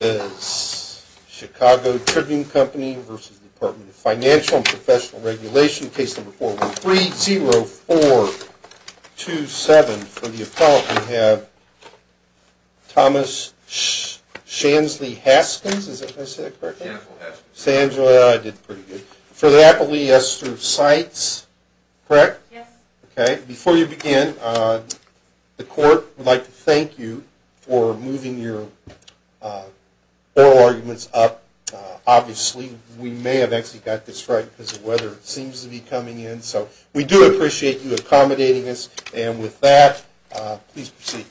Case No. 413-0427. For the appellant we have Thomas Shansley-Haskins, is that how you say it correctly? Shansley-Haskins. Shansley-Haskins. I did pretty good. For the appellee, yes, through CITES, correct? Yes. Okay. Before you begin, the court would like to thank you for moving your application. We do appreciate you accommodating us. And with that, please proceed.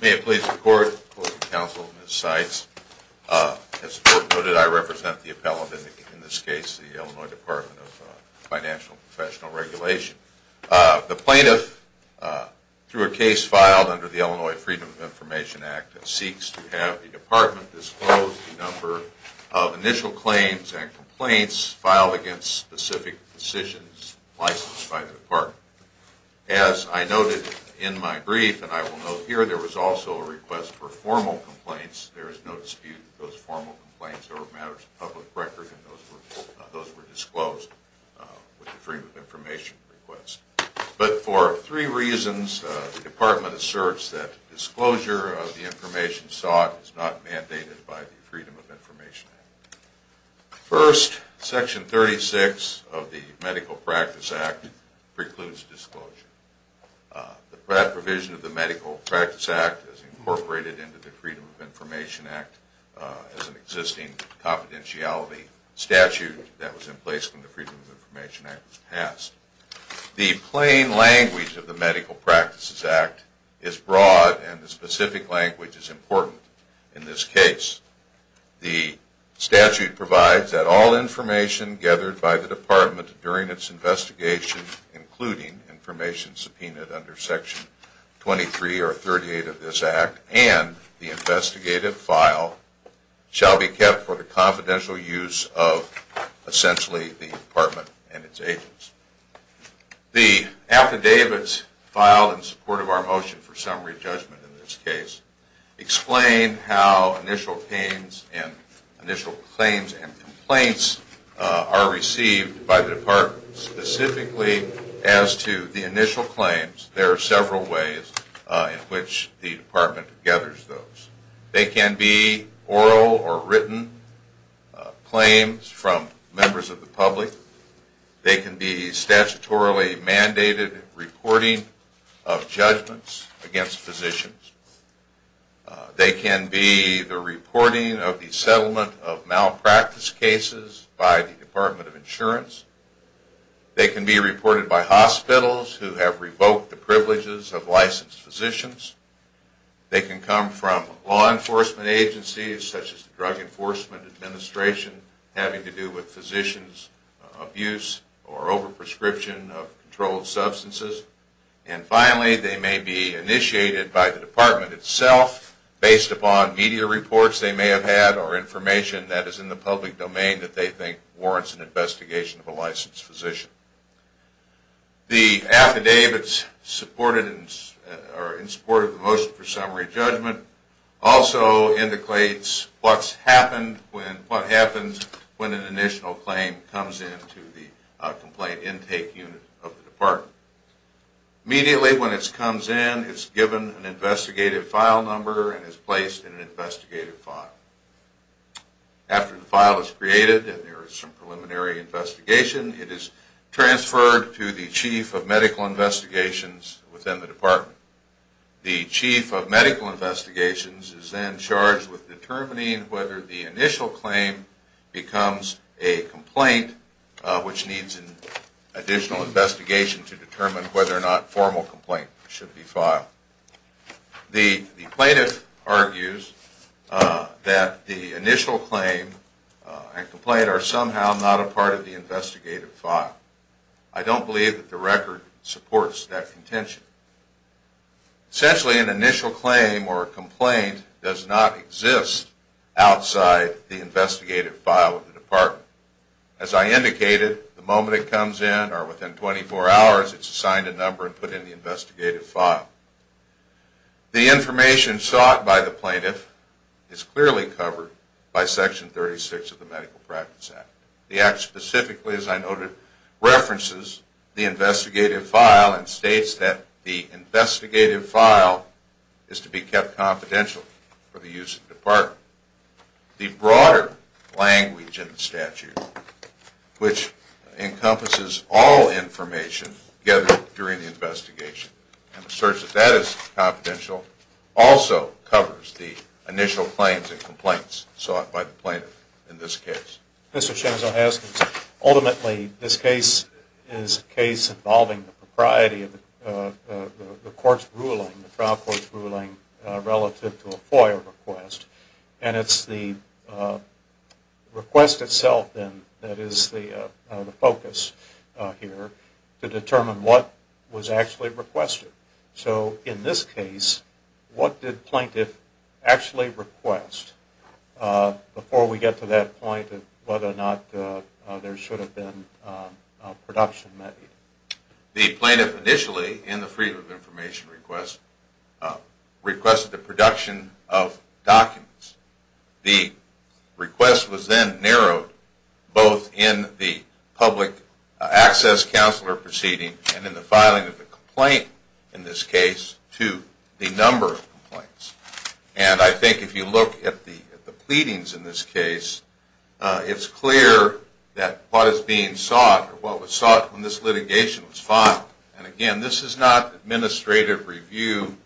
May it please the Court, the Court of Counsel, and the CITES. As the Court noted, I represent the appellant in this case, the Illinois Department of Financial and Professional Regulation. The plaintiff, through a case filed under the Illinois Freedom of Information Act, seeks to have the Department disclose the number of initial claims and complaints filed against specific decisions licensed by the Department. As I noted in my brief, and I will note here, there was also a request for formal complaints. There is no dispute that those formal complaints are matters of public record and those were disclosed with the Freedom of Information request. But for three reasons, the Department asserts that disclosure of the information sought is not mandated by the Freedom of Information Act. First, Section 36 of the Medical Practice Act precludes disclosure. The provision of the Medical Practice Act is incorporated into the Freedom of Information Act as an existing confidentiality statute that was in place when the Freedom of Information Act was passed. The plain language of the Medical Practices Act is broad and the specific language is important in this case. The statute provides that all information gathered by the Department during its investigation, including information subpoenaed under Section 23 or 38 of this Act and the investigative file, shall be kept for the confidential use of, essentially, the Department and its agents. The affidavits filed in support of our motion for summary judgment in this case explain how initial claims and complaints are received by the Department. Specifically as to the initial claims, there are several ways in which the Department gathers those. They can be oral or written claims from members of the public. They can be statutorily mandated reporting of judgments against physicians. They can be the reporting of the settlement of malpractice cases by the Department of Insurance. They can be reported by hospitals who have revoked the privileges of licensed physicians. They can come from law enforcement agencies, such as the Drug Enforcement Administration, having to do with physicians' abuse or overprescription of controlled substances. And finally, they may be initiated by the Department itself based upon media reports they may have had or information that is in the public domain that they think warrants an investigation of a licensed physician. The affidavits in support of the motion for summary judgment also indicates what happens when an initial claim comes into the complaint intake unit of the Department. Immediately when it comes in, it is given an investigative file number and is placed in an investigative file. After the file is created and there is some preliminary investigation, it is transferred to the Chief of Medical Investigations within the Department. The Chief of Medical Investigations is then charged with determining whether the initial claim becomes a complaint which needs an additional investigation to determine whether or not formal complaint should be filed. The plaintiff argues that the initial claim and complaint are somehow not a part of the investigative file. I don't believe that the record supports that contention. Essentially, an initial claim or complaint does not exist outside the investigative file of the Department. As I indicated, the moment it comes in or within 24 hours, it is assigned a number and put in the investigative file. The information sought by the plaintiff is clearly covered by Section 36 of the Medical Practice Act. The Act specifically, as I noted, references the investigative file and states that the investigative file is to be kept confidential for the use of the Department. The broader language in the statute, which encompasses all information gathered during the investigation and asserts that that is confidential, also covers the initial claims and complaints sought by the plaintiff in this case. Ultimately, this case is a case involving the propriety of the trial court's ruling relative to a FOIA request. It is the request itself that is the focus here to determine what was actually requested. So, in this case, what did the plaintiff actually request before we get to that point of whether or not there should have been a production method? The plaintiff initially, in the Freedom of Information request, requested the production of documents. The request was then narrowed both in the public access counselor proceeding and in the filing of the complaint in this case to the number of complaints. And I think if you look at the pleadings in this case, it's clear that what is being sought or what was sought in this litigation was filed. And again, this is not administrative review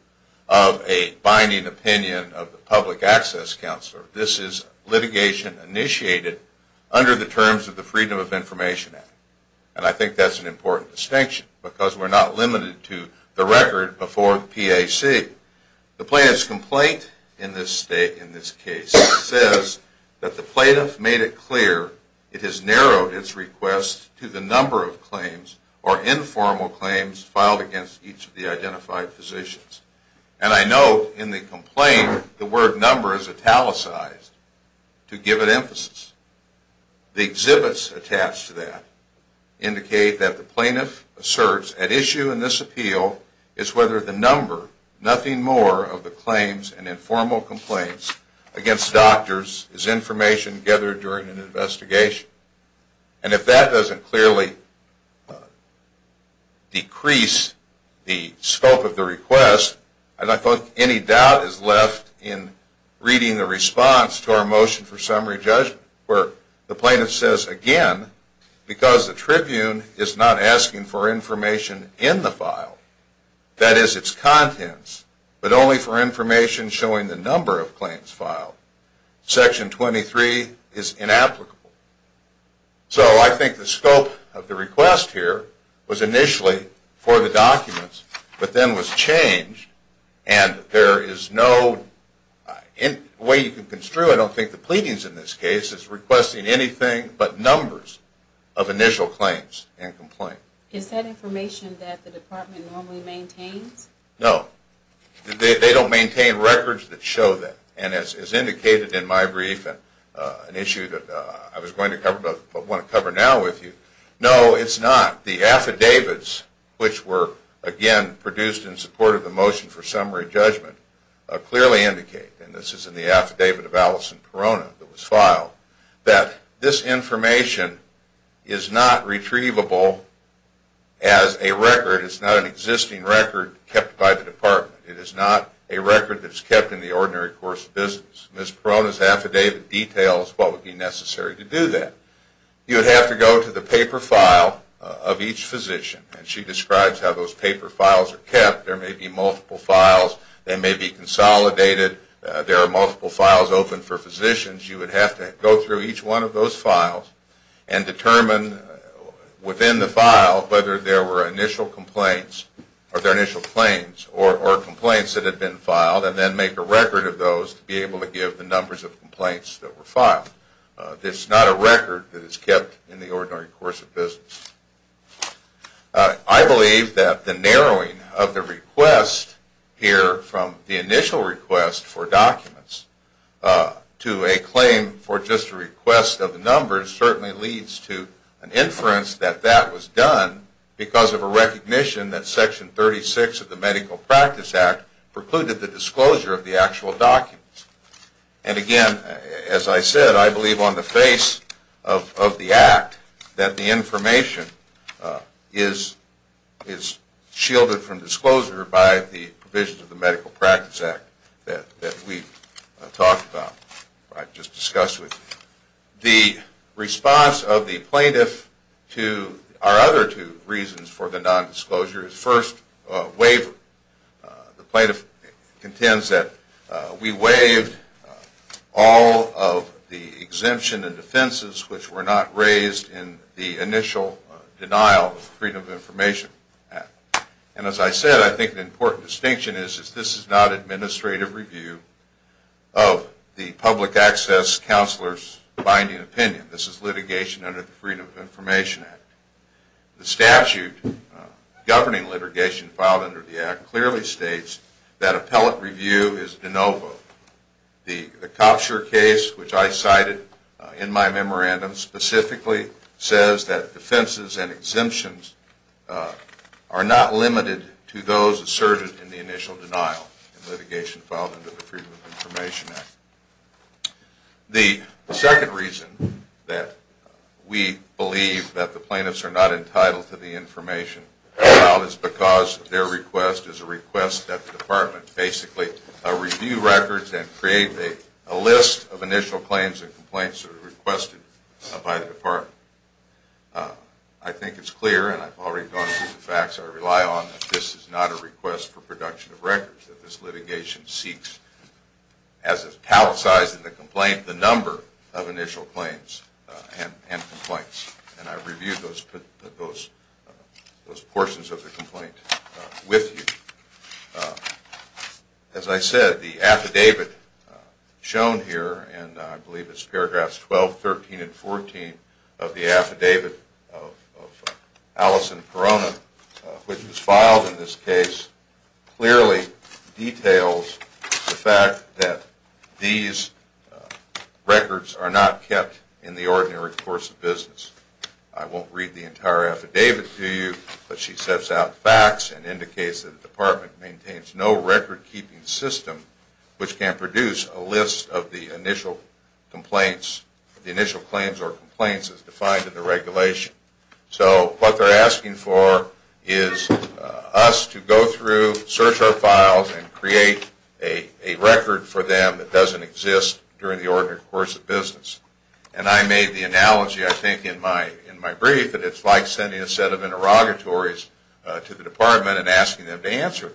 of a binding opinion of the public access counselor. This is litigation initiated under the terms of the Freedom of Information Act. And I think that's an important distinction because we're not limited to the record before PAC. The plaintiff's complaint in this case says that the plaintiff made it clear it has narrowed its request to the number of claims or informal claims filed against each of the identified physicians. And I note in the complaint the word number is italicized to give it emphasis. The exhibits attached to that indicate that the plaintiff asserts at issue in this appeal is whether the number, nothing more of the claims and informal complaints against doctors is information gathered during an investigation. And if that doesn't clearly decrease the scope of the request, I don't think any doubt is left in reading the response to our motion for summary judgment where the plaintiff says, again, because the tribune is not asking for information in the file, that is its contents, but only for information showing the number of claims filed, section 23 is inapplicable. So I think the scope of the request here was initially for the documents but then was changed and there is no way you can construe it. I don't think the pleadings in this case is requesting anything but numbers of initial claims and complaints. Is that information that the department normally maintains? No. They don't maintain records that show that. And as indicated in my brief, an issue that I was going to cover but want to cover now with you, no, it's not. The affidavits, which were again produced in support of the motion for summary judgment, clearly indicate, and this is in the affidavit of Allison Perona that was filed, that this information is not retrievable as a record, it's not an existing record kept by the department. It is not a record that is kept in the ordinary course of business. Miss Perona's affidavit details what would be necessary to do that. You would have to go to the paper file of each physician and she describes how those paper files are kept. There may be multiple files, they may be consolidated, there are multiple files open for physicians. You would have to go through each one of those files and determine within the file whether there were initial complaints or complaints that had been filed and then make a record of those to be able to give the numbers of complaints that were filed. It's not a record that is kept in the ordinary course of business. I believe that the narrowing of the request here from the initial request for documents to a claim for just a request of numbers certainly leads to an inference that that was done because of a recognition that Section 36 of the Medical Practice Act precluded the disclosure of the actual documents. And again, as I said, I believe on the face of the act that the information is shielded from disclosure by the provisions of the Medical Practice Act that we've talked about, just discussed with you. The response of the plaintiff to our other two reasons for the nondisclosure is first, waiver. The plaintiff contends that we waived all of the exemption and defenses which were not raised in the initial denial of the Freedom of Information Act. And as I said, I think an important distinction is that this is not administrative review of the public access counselor's binding opinion. This is litigation under the Freedom of Information Act. The statute governing litigation filed under the act clearly states that appellate review is de novo. The Kopsher case, which I cited in my memorandum, specifically says that defenses and exemptions are not limited to those asserted in the initial denial of litigation filed under the Freedom of Information Act. The second reason that we believe that the plaintiffs are not entitled to the information filed is because their request is a request that the department basically review records and create a list of initial claims and complaints that are requested by the department. I think it's clear, and I've already gone through the facts, I rely on that this is not a request for production of records, that this litigation seeks, as a palisade in the complaint, the number of initial claims and complaints. And I reviewed those portions of the complaint with you. As I said, the affidavit shown here, and I believe it's paragraphs 12, 13, and 14 of the affidavit of Allison Perona, which was filed in this case, clearly details the fact that these records are not kept in the ordinary course of business. I won't read the entire affidavit to you, but she sets out facts and indicates that the department maintains no record-keeping system which can produce a list of the initial complaints, the initial claims or complaints as defined in the regulation. So what they're asking for is us to go through, search our files, and create a record for them that doesn't exist during the ordinary course of business. And I made the analogy, I think, in my brief that it's like sending a set of interrogatories to the department and asking them to answer.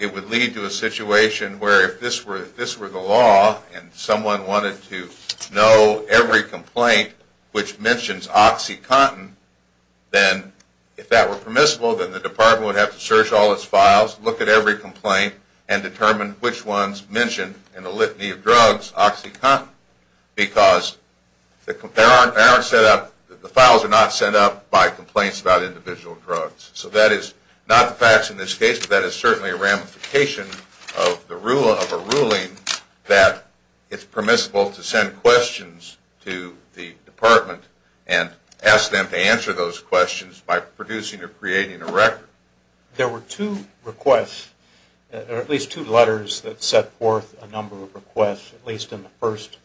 It would lead to a situation where if this were the law and someone wanted to know every complaint which mentions OxyContin, then if that were permissible, then the department would have to search all its files, look at every complaint, and determine which ones mentioned in the litany of drugs OxyContin. But it's not, because the files are not sent out by complaints about individual drugs. So that is not the facts in this case, but that is certainly a ramification of a ruling that it's permissible to send questions to the department and ask them to answer those questions by producing or creating a record. There were two requests, or at least two letters that set forth a number of requests, at least in the first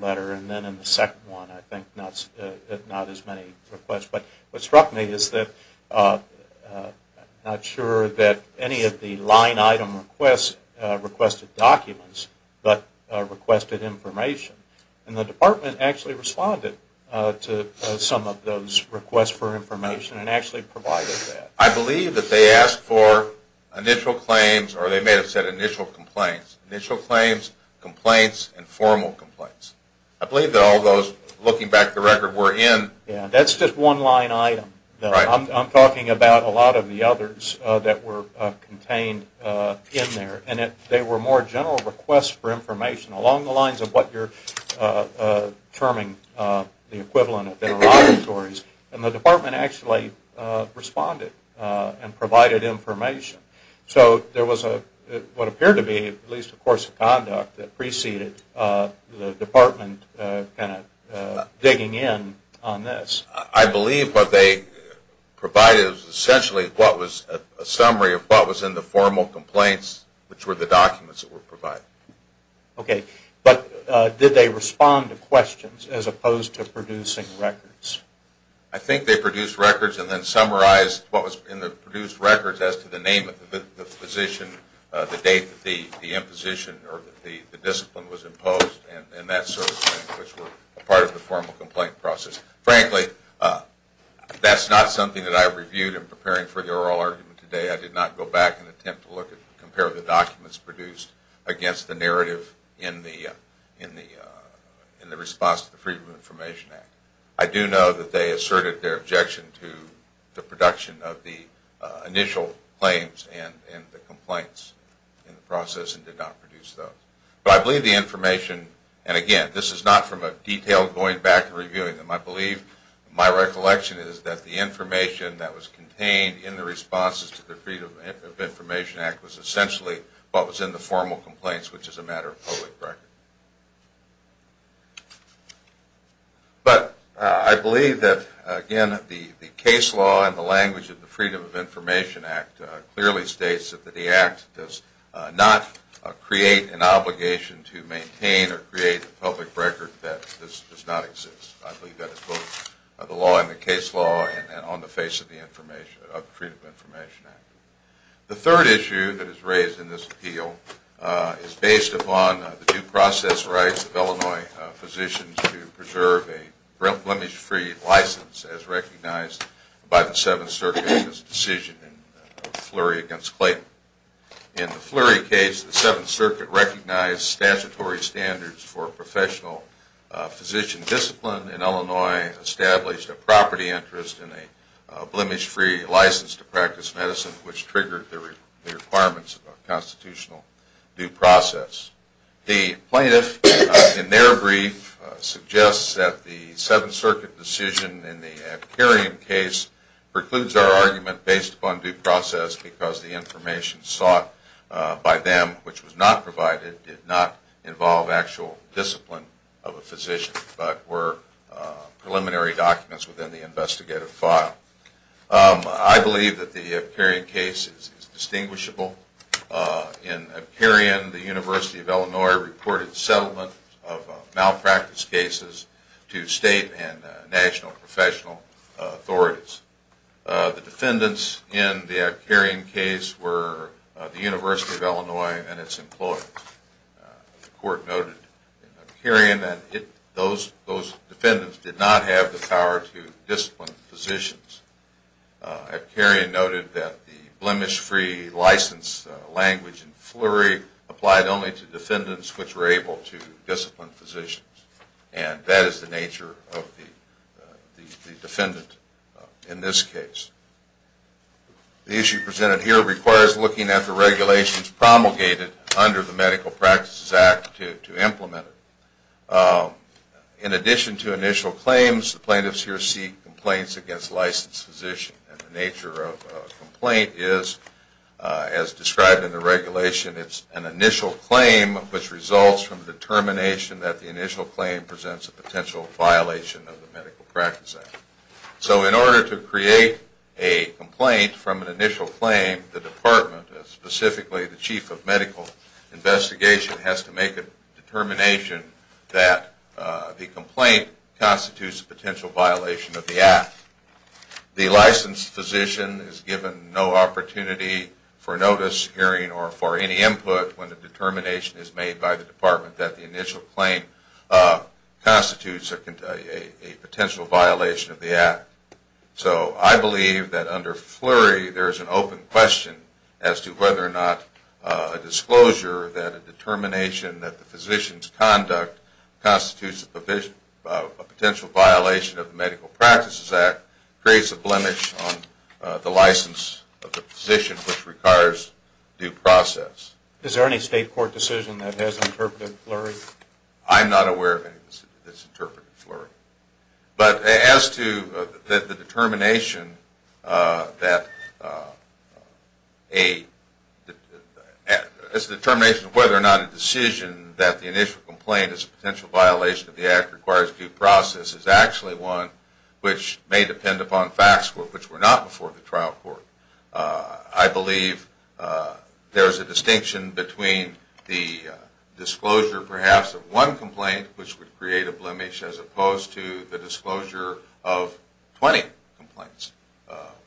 letter and then in the second one, I think, not as many requests. But what struck me is that I'm not sure that any of the line item requests requested documents, but requested information. And the department actually responded to some of those requests for information and actually provided that. I believe that they asked for initial claims, or they may have said initial complaints. Initial claims, complaints, and formal complaints. I believe that all those, looking back at the record, were in... determining the equivalent of interrogatories. And the department actually responded and provided information. So there was what appeared to be at least a course of conduct that preceded the department digging in on this. I believe what they provided was essentially a summary of what was in the formal complaints, which were the documents that were provided. Okay. But did they respond to questions as opposed to producing records? I think they produced records and then summarized what was in the produced records as to the name of the physician, the date that the imposition or the discipline was imposed, and that sort of thing, which were part of the formal complaint process. Frankly, that's not something that I reviewed in preparing for the oral argument today. I did not go back and attempt to compare the documents produced against the narrative in the response to the Freedom of Information Act. I do know that they asserted their objection to the production of the initial claims and the complaints in the process and did not produce those. But I believe the information, and again, this is not from a detailed going back and reviewing them. I believe my recollection is that the information that was contained in the responses to the Freedom of Information Act was essentially what was in the formal complaints, which is a matter of public record. But I believe that, again, the case law and the language of the Freedom of Information Act clearly states that the Act does not create an obligation to maintain or create a public record that this does not exist. I believe that is both the law and the case law and on the face of the Freedom of Information Act. The third issue that is raised in this appeal is based upon the due process rights of Illinois physicians to preserve a blemish-free license as recognized by the Seventh Circuit in this decision in Fleury v. Clayton. In the Fleury case, the Seventh Circuit recognized statutory standards for professional physician discipline in Illinois, established a property interest and a blemish-free license to practice medicine, which triggered the requirements of a constitutional due process. The plaintiff, in their brief, suggests that the Seventh Circuit decision in the Abkarian case precludes our argument based upon due process because the information sought by them, which was not provided, did not involve actual discipline of a physician, but were preliminary documents within the investigative file. I believe that the Abkarian case is distinguishable. In Abkarian, the University of Illinois reported settlement of malpractice cases to state and national professional authorities. The defendants in the Abkarian case were the University of Illinois and its employees. The court noted in Abkarian that those defendants did not have the power to discipline physicians. Abkarian noted that the blemish-free license language in Fleury applied only to defendants which were able to discipline physicians, and that is the nature of the defendant in this case. The issue presented here requires looking at the regulations promulgated under the Medical Practices Act to implement it. In addition to initial claims, the plaintiffs here seek complaints against licensed physicians. The nature of a complaint is, as described in the regulation, it is an initial claim which results from the determination that the initial claim presents a potential violation of the Medical Practices Act. So in order to create a complaint from an initial claim, the department, specifically the Chief of Medical Investigation, has to make a determination that the complaint constitutes a potential violation of the Act. The licensed physician is given no opportunity for notice, hearing, or for any input when the determination is made by the department that the initial claim constitutes a potential violation of the Act. So I believe that under Fleury there is an open question as to whether or not a disclosure that a determination that the physician's conduct constitutes a potential violation of the Medical Practices Act creates a blemish on the license of the physician which requires due process. Is there any state court decision that has interpreted Fleury? I'm not aware of any that has interpreted Fleury. But as to the determination of whether or not a decision that the initial complaint is a potential violation of the Act requires due process is actually one which may depend upon facts which were not before the trial court. I believe there is a distinction between the disclosure perhaps of one complaint which would create a blemish as opposed to the disclosure of 20 complaints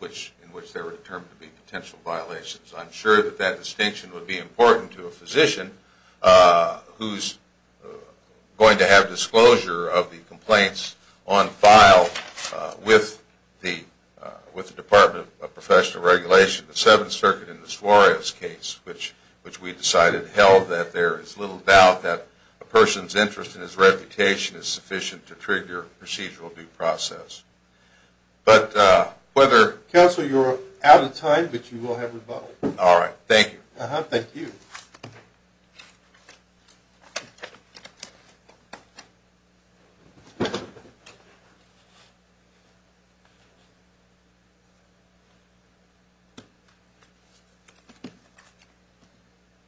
in which there were determined to be potential violations. I'm sure that that distinction would be important to a physician who's going to have disclosure of the complaints on file with the Department of Professional Regulation, the Seventh Circuit in the Suarez case, which we decided held that there is little doubt that a person's interest and his reputation is sufficient to trigger procedural due process. Counsel, you're out of time, but you will have rebuttal. All right. Thank you. Thank you.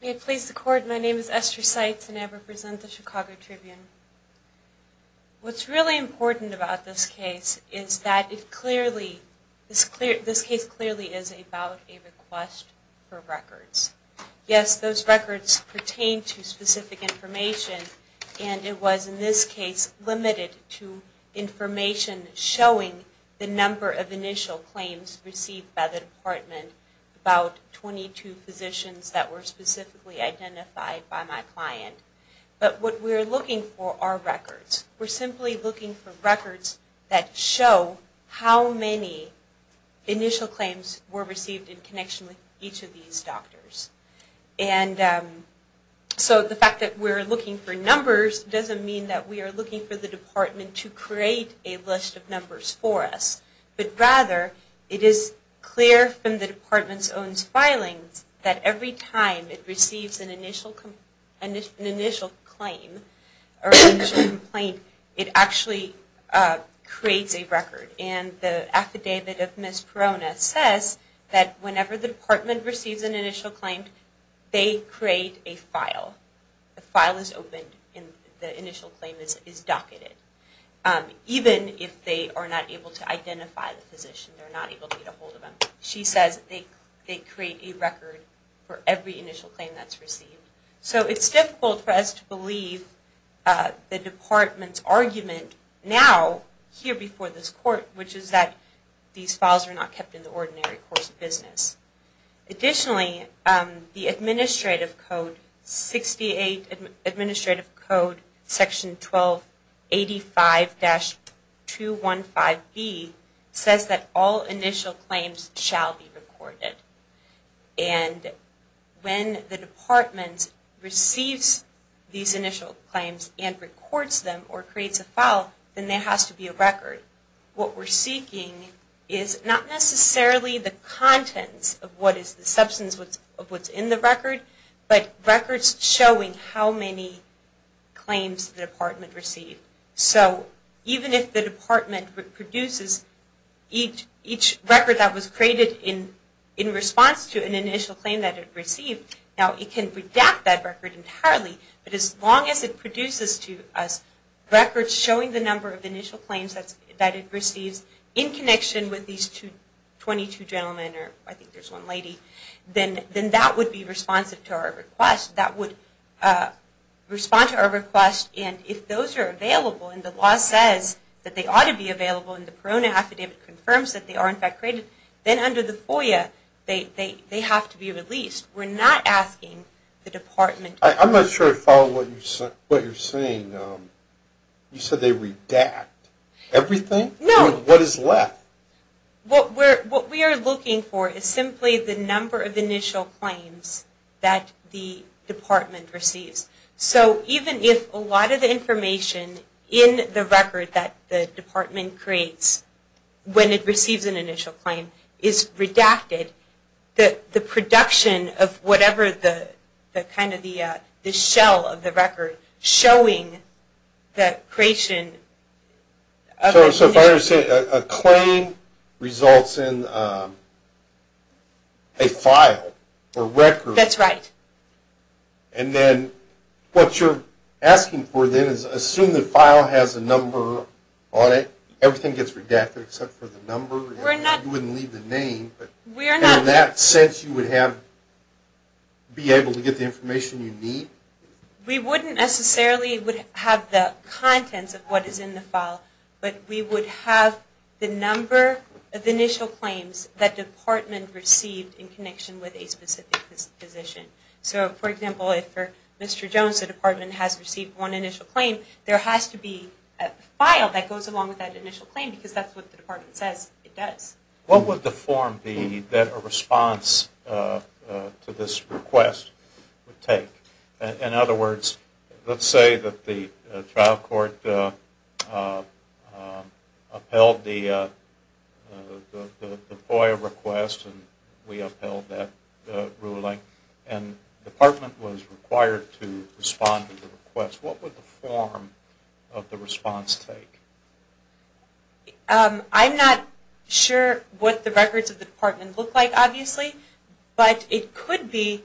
May it please the Court, my name is Esther Seitz and I represent the Chicago Tribune. What's really important about this case is that this case clearly is about a request for records. Yes, those records pertain to specific information and it was in this case limited to information showing the number of initial claims received by the Department about 22 physicians that were specifically identified by my client. But what we're looking for are records. We're simply looking for records that show how many initial claims were received in connection with each of these doctors. And so the fact that we're looking for numbers doesn't mean that we are looking for the Department to create a list of numbers for us. But rather, it is clear from the Department's own filings that every time it receives an initial claim, it actually creates a record. And the affidavit of Ms. Perona says that whenever the Department receives an initial claim, they create a file. The file is opened and the initial claim is docketed. Even if they are not able to identify the physician, they're not able to get a hold of him. She says they create a record for every initial claim that's received. So it's difficult for us to believe the Department's argument now, here before this Court, which is that these files are not kept in the ordinary course of business. Additionally, the Administrative Code, 68 Administrative Code, Section 1285-215B, says that all initial claims shall be recorded. And when the Department receives these initial claims and records them or creates a file, then there has to be a record. What we're seeking is not necessarily the contents of what is the substance of what's in the record, but records showing how many claims the Department received. So even if the Department produces each record that was created in response to an initial claim that it received, now it can redact that record entirely, but as long as it produces to us records showing the number of initial claims that it receives in connection with these 22 gentlemen, or I think there's one lady, then that would be responsive to our request. That would respond to our request, and if those are available and the law says that they ought to be available and the Corona Affidavit confirms that they are in fact created, then under the FOIA, they have to be released. We're not asking the Department. I'm not sure I follow what you're saying. You said they redact everything? No. What is left? What we are looking for is simply the number of initial claims that the Department receives. So even if a lot of the information in the record that the Department creates when it receives an initial claim is redacted, the production of whatever the kind of the shell of the record showing that creation... So if I understand, a claim results in a file or record. That's right. And then what you're asking for then is assume the file has a number on it. Everything gets redacted except for the number. You wouldn't leave the name, but in that sense you would be able to get the information you need? We wouldn't necessarily have the contents of what is in the file, but we would have the number of initial claims that the Department received in connection with a specific position. So, for example, if for Mr. Jones the Department has received one initial claim, there has to be a file that goes along with that initial claim because that's what the Department says it does. What would the form be that a response to this request would take? In other words, let's say that the trial court upheld the FOIA request and we upheld that ruling and the Department was required to respond to the request. What would the form of the response take? I'm not sure what the records of the Department look like obviously, but it could be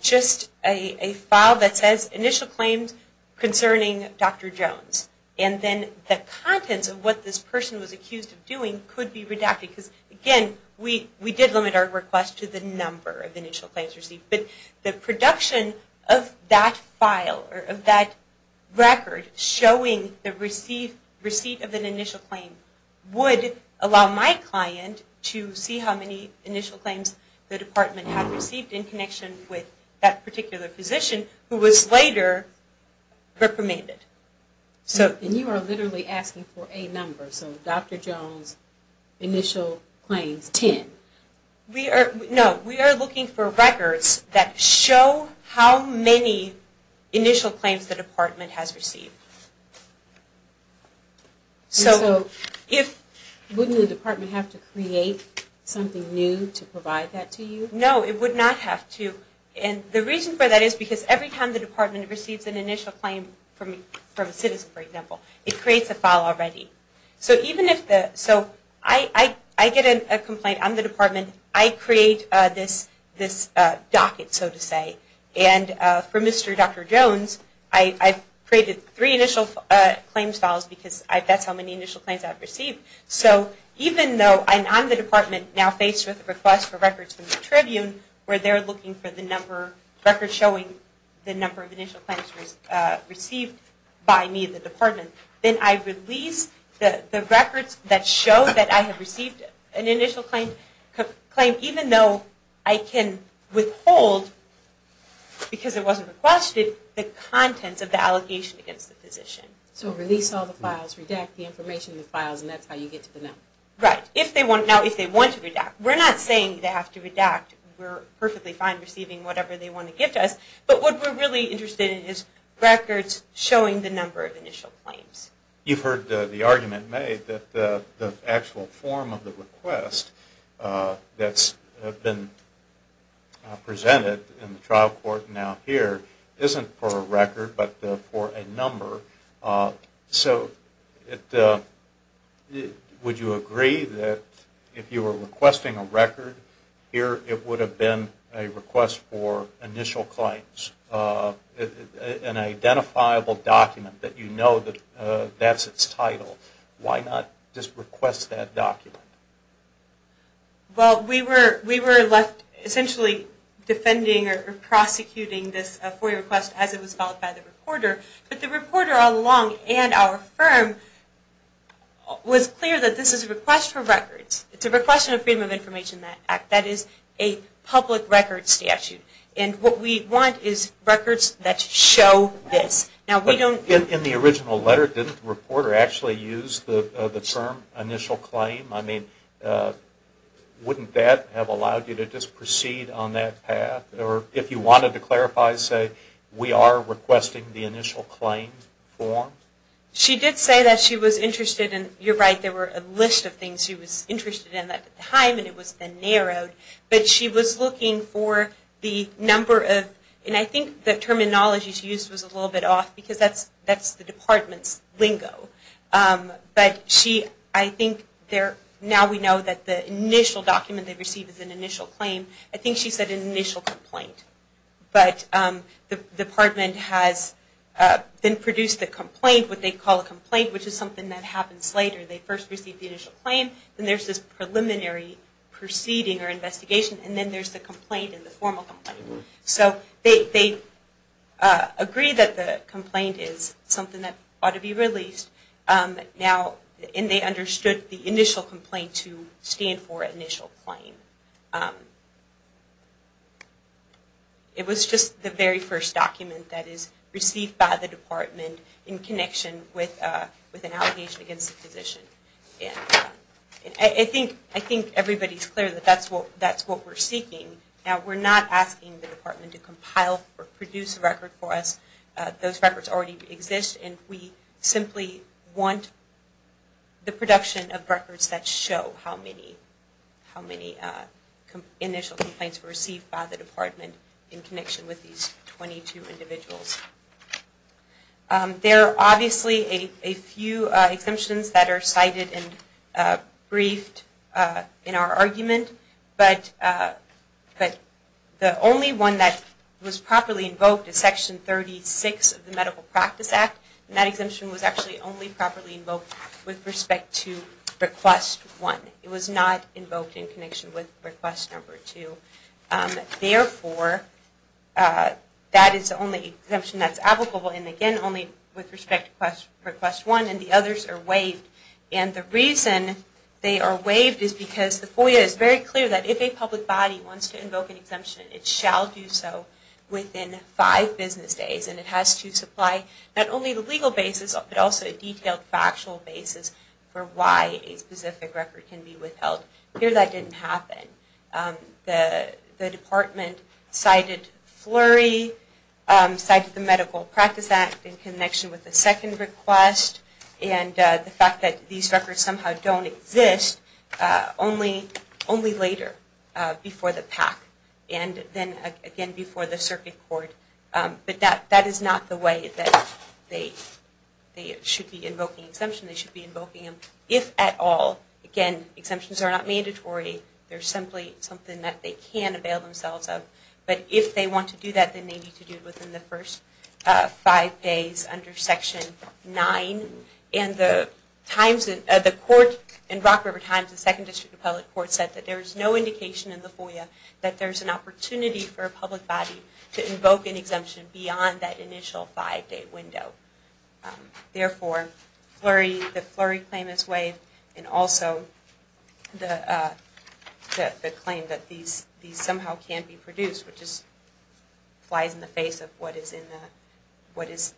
just a file that says initial claims concerning Dr. Jones. And then the contents of what this person was accused of doing could be redacted. Again, we did limit our request to the number of initial claims received, but the production of that file or of that record showing the receipt of an initial claim would allow my client to see how many initial claims the Department had received in connection with that particular physician who was later reprimanded. And you are literally asking for a number, so Dr. Jones initial claims, 10? No, we are looking for records that show how many initial claims the Department has received. So wouldn't the Department have to create something new to provide that to you? No, it would not have to. And the reason for that is because every time the Department receives an initial claim from a citizen, for example, it creates a file already. So I get a complaint on the Department. I create this docket, so to say. And for Mr. Dr. Jones, I've created three initial claims files because that's how many initial claims I've received. So even though I'm on the Department now faced with a request for records from the Tribune where they're looking for records showing the number of initial claims received by me, the Department, then I release the records that show that I have received an initial claim, even though I can withhold, because it wasn't requested, the contents of the allegation against the physician. So release all the files, redact the information in the files, and that's how you get to the number. Right. Now, if they want to redact. We're not saying they have to redact. We're perfectly fine receiving whatever they want to give to us. But what we're really interested in is records showing the number of initial claims. You've heard the argument made that the actual form of the request that's been presented in the trial court now here isn't for a record, but for a number. So would you agree that if you were requesting a record here, it would have been a request for initial claims, an identifiable document that you know that that's its title. Why not just request that document? Well, we were left essentially defending or prosecuting this FOIA request as it was filed by the reporter. But the reporter along and our firm was clear that this is a request for records. It's a request for Freedom of Information Act. That is a public record statute. And what we want is records that show this. In the original letter, didn't the reporter actually use the term initial claim? I mean, wouldn't that have allowed you to just proceed on that path? Or if you wanted to clarify, say, we are requesting the initial claim form? She did say that she was interested in, you're right, there were a list of things she was interested in at the time, but she was looking for the number of, and I think the terminology she used was a little bit off, because that's the department's lingo. But I think now we know that the initial document they received is an initial claim. I think she said an initial complaint. But the department has then produced the complaint, what they call a complaint, which is something that happens later. They first receive the initial claim, then there's this preliminary proceeding or investigation, and then there's the complaint and the formal complaint. So they agree that the complaint is something that ought to be released now, and they understood the initial complaint to stand for initial claim. It was just the very first document that is received by the department in connection with an allegation against the physician. I think everybody's clear that that's what we're seeking. Now, we're not asking the department to compile or produce a record for us. Those records already exist, and we simply want the production of records that show how many initial complaints were received by the department in connection with these 22 individuals. There are obviously a few exemptions that are cited and briefed in our argument, but the only one that was properly invoked is Section 36 of the Medical Practice Act, and that exemption was actually only properly invoked with respect to request one. It was not invoked in connection with request number two. Therefore, that is the only exemption that's applicable, and again, only with respect to request one, and the others are waived. And the reason they are waived is because the FOIA is very clear that if a public body wants to invoke an exemption, it shall do so within five business days, and it has to supply not only the legal basis but also a detailed factual basis for why a specific record can be withheld. Here, that didn't happen. The department cited FLURRY, cited the Medical Practice Act in connection with the second request, and the fact that these records somehow don't exist only later, before the PAC, and then again before the Circuit Court. But that is not the way that they should be invoking exemption. They should be invoking them if at all. Again, exemptions are not mandatory. They're simply something that they can avail themselves of. But if they want to do that, then they need to do it within the first five days under Section 9. And the court in Rock River Times, the Second District Appellate Court, said that there is no indication in the FOIA that there's an opportunity for a public body to invoke an exemption beyond that initial five-day window. Therefore, the FLURRY claim is waived, and also the claim that these somehow can be produced, which just flies in the face of what is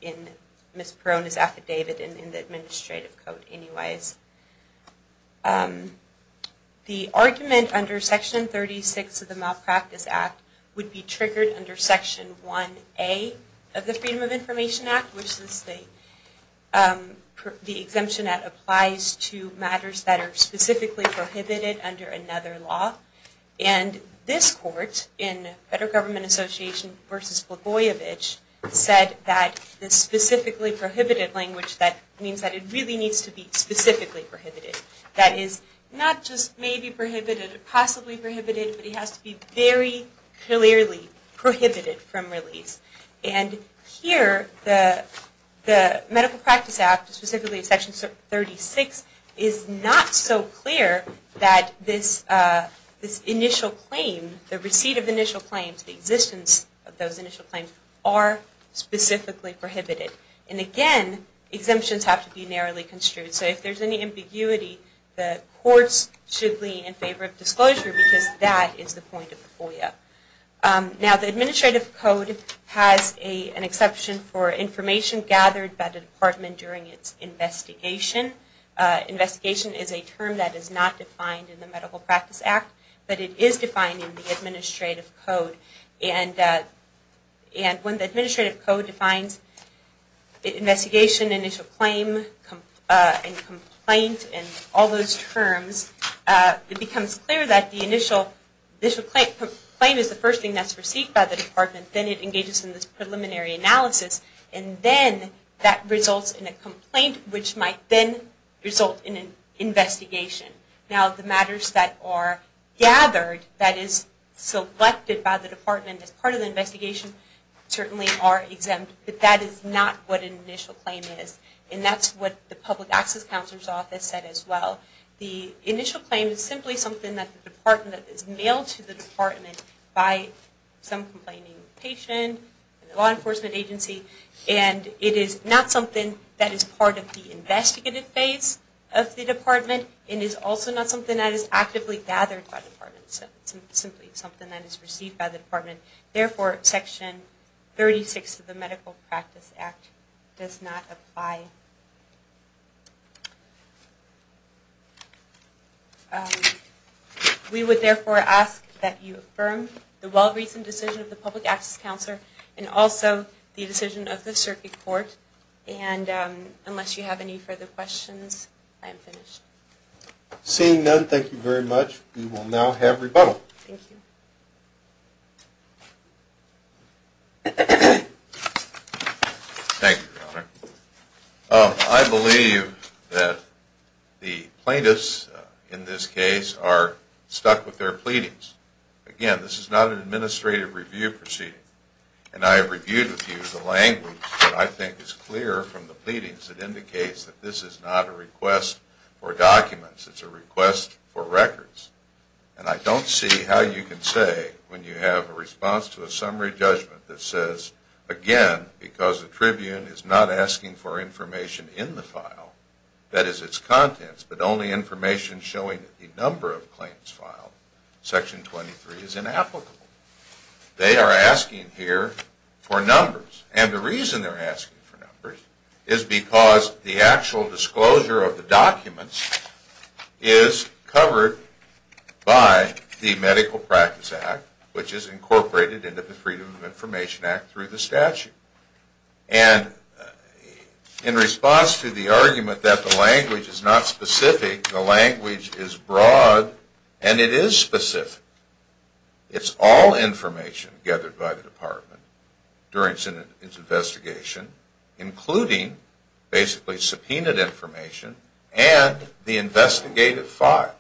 in Ms. Perrone's affidavit and in the Administrative Code anyways. The argument under Section 36 of the Malpractice Act would be triggered under Section 1A of the Freedom of Information Act, which is the exemption that applies to matters that are specifically prohibited under another law. And this court in Federal Government Association v. Blagojevich said that the specifically prohibited language, that means that it really needs to be specifically prohibited. That is, not just maybe prohibited or possibly prohibited, but it has to be very clearly prohibited from release. And here, the Medical Practice Act, specifically Section 36, is not so clear that this initial claim, the receipt of initial claims, the existence of those initial claims, are specifically prohibited. And again, exemptions have to be narrowly construed. So if there's any ambiguity, the courts should lean in favor of disclosure because that is the point of the FOIA. Now, the Administrative Code has an exception for information gathered by the Department during its investigation. Investigation is a term that is not defined in the Medical Practice Act, but it is defined in the Administrative Code. And when the Administrative Code defines investigation, initial claim, and complaint, and all those terms, it becomes clear that the initial claim is the first thing that's received by the Department, then it engages in this preliminary analysis, and then that results in a complaint, which might then result in an investigation. Now, the matters that are gathered, that is selected by the Department as part of the investigation, certainly are exempt, but that is not what an initial claim is. And that's what the Public Access Counselor's Office said as well. The initial claim is simply something that is mailed to the Department by some complaining patient, a law enforcement agency, and it is not something that is part of the investigative phase of the Department. It is also not something that is actively gathered by the Department. It's simply something that is received by the Department. Therefore, Section 36 of the Medical Practice Act does not apply. We would therefore ask that you affirm the well-recent decision of the Public Access Counselor, and also the decision of the Circuit Court. And unless you have any further questions, I am finished. Seeing none, thank you very much. We will now have rebuttal. Thank you. Thank you, Your Honor. I believe that the plaintiffs in this case are stuck with their pleadings. Again, this is not an administrative review proceeding, and I have reviewed with you the language that I think is clear from the pleadings. It indicates that this is not a request for documents. It's a request for records. And I don't see how you can say when you have a response to a summary judgment that says, again, because the Tribune is not asking for information in the file, that is its contents, but only information showing that the number of claims filed, Section 23, is inapplicable. They are asking here for numbers. And the reason they are asking for numbers is because the actual disclosure of the documents is covered by the Medical Practice Act, which is incorporated into the Freedom of Information Act through the statute. And in response to the argument that the language is not specific, the language is broad, and it is specific. It's all information gathered by the Department during its investigation, including basically subpoenaed information and the investigative file.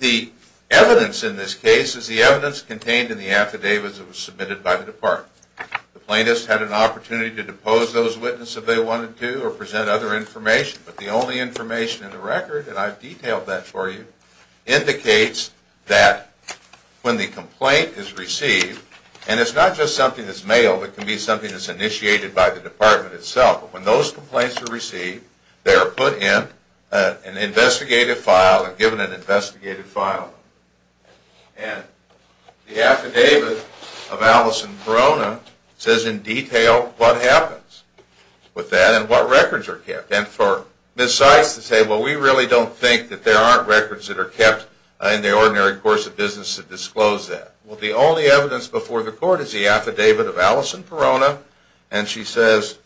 The evidence in this case is the evidence contained in the affidavits submitted by the Department. The plaintiffs had an opportunity to depose those witnesses if they wanted to or present other information, but the only information in the record, and I've detailed that for you, indicates that when the complaint is received, and it's not just something that's mailed, it can be something that's initiated by the Department itself, but when those complaints are received, they are put in an investigative file and given an investigative file. And the affidavit of Allison Corona says in detail what happens with that and what records are kept. And for Ms. Seitz to say, well, we really don't think that there aren't records that are kept in the ordinary course of business to disclose that. Well, the only evidence before the Court is the affidavit of Allison Corona, and she says,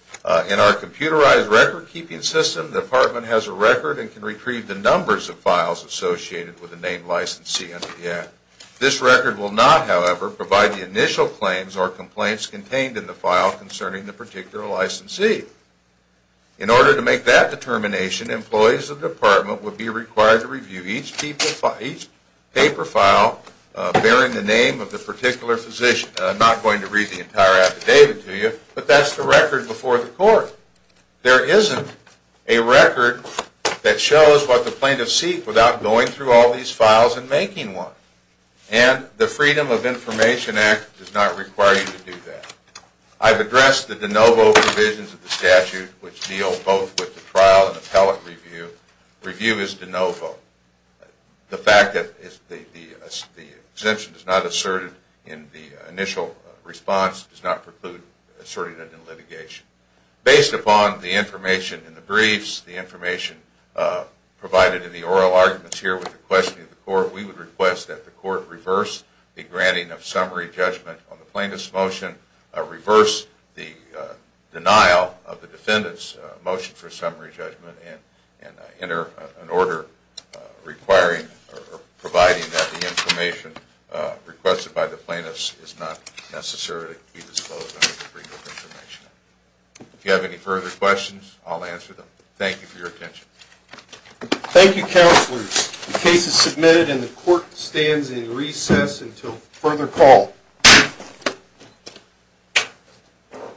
in our computerized record-keeping system, the Department has a record and can retrieve the numbers of files associated with the named licensee under the Act. This record will not, however, provide the initial claims or complaints contained in the file concerning the particular licensee. In order to make that determination, employees of the Department would be required to review each paper file bearing the name of the particular physician. I'm not going to read the entire affidavit to you, but that's the record before the Court. There isn't a record that shows what the plaintiffs seek without going through all these files and making one. And the Freedom of Information Act does not require you to do that. I've addressed the de novo provisions of the statute, which deal both with the trial and appellate review. Review is de novo. The fact that the exemption is not asserted in the initial response does not preclude asserting it in litigation. Based upon the information in the briefs, the information provided in the oral arguments here with the questioning of the Court, we would request that the Court reverse the granting of summary judgment on the plaintiff's motion, reverse the denial of the defendant's motion for summary judgment, and enter an order providing that the information requested by the plaintiffs is not necessarily to be disclosed under the Freedom of Information Act. If you have any further questions, I'll answer them. Thank you for your attention. Thank you, Counselors. The case is submitted and the Court stands in recess until further call. Thank you.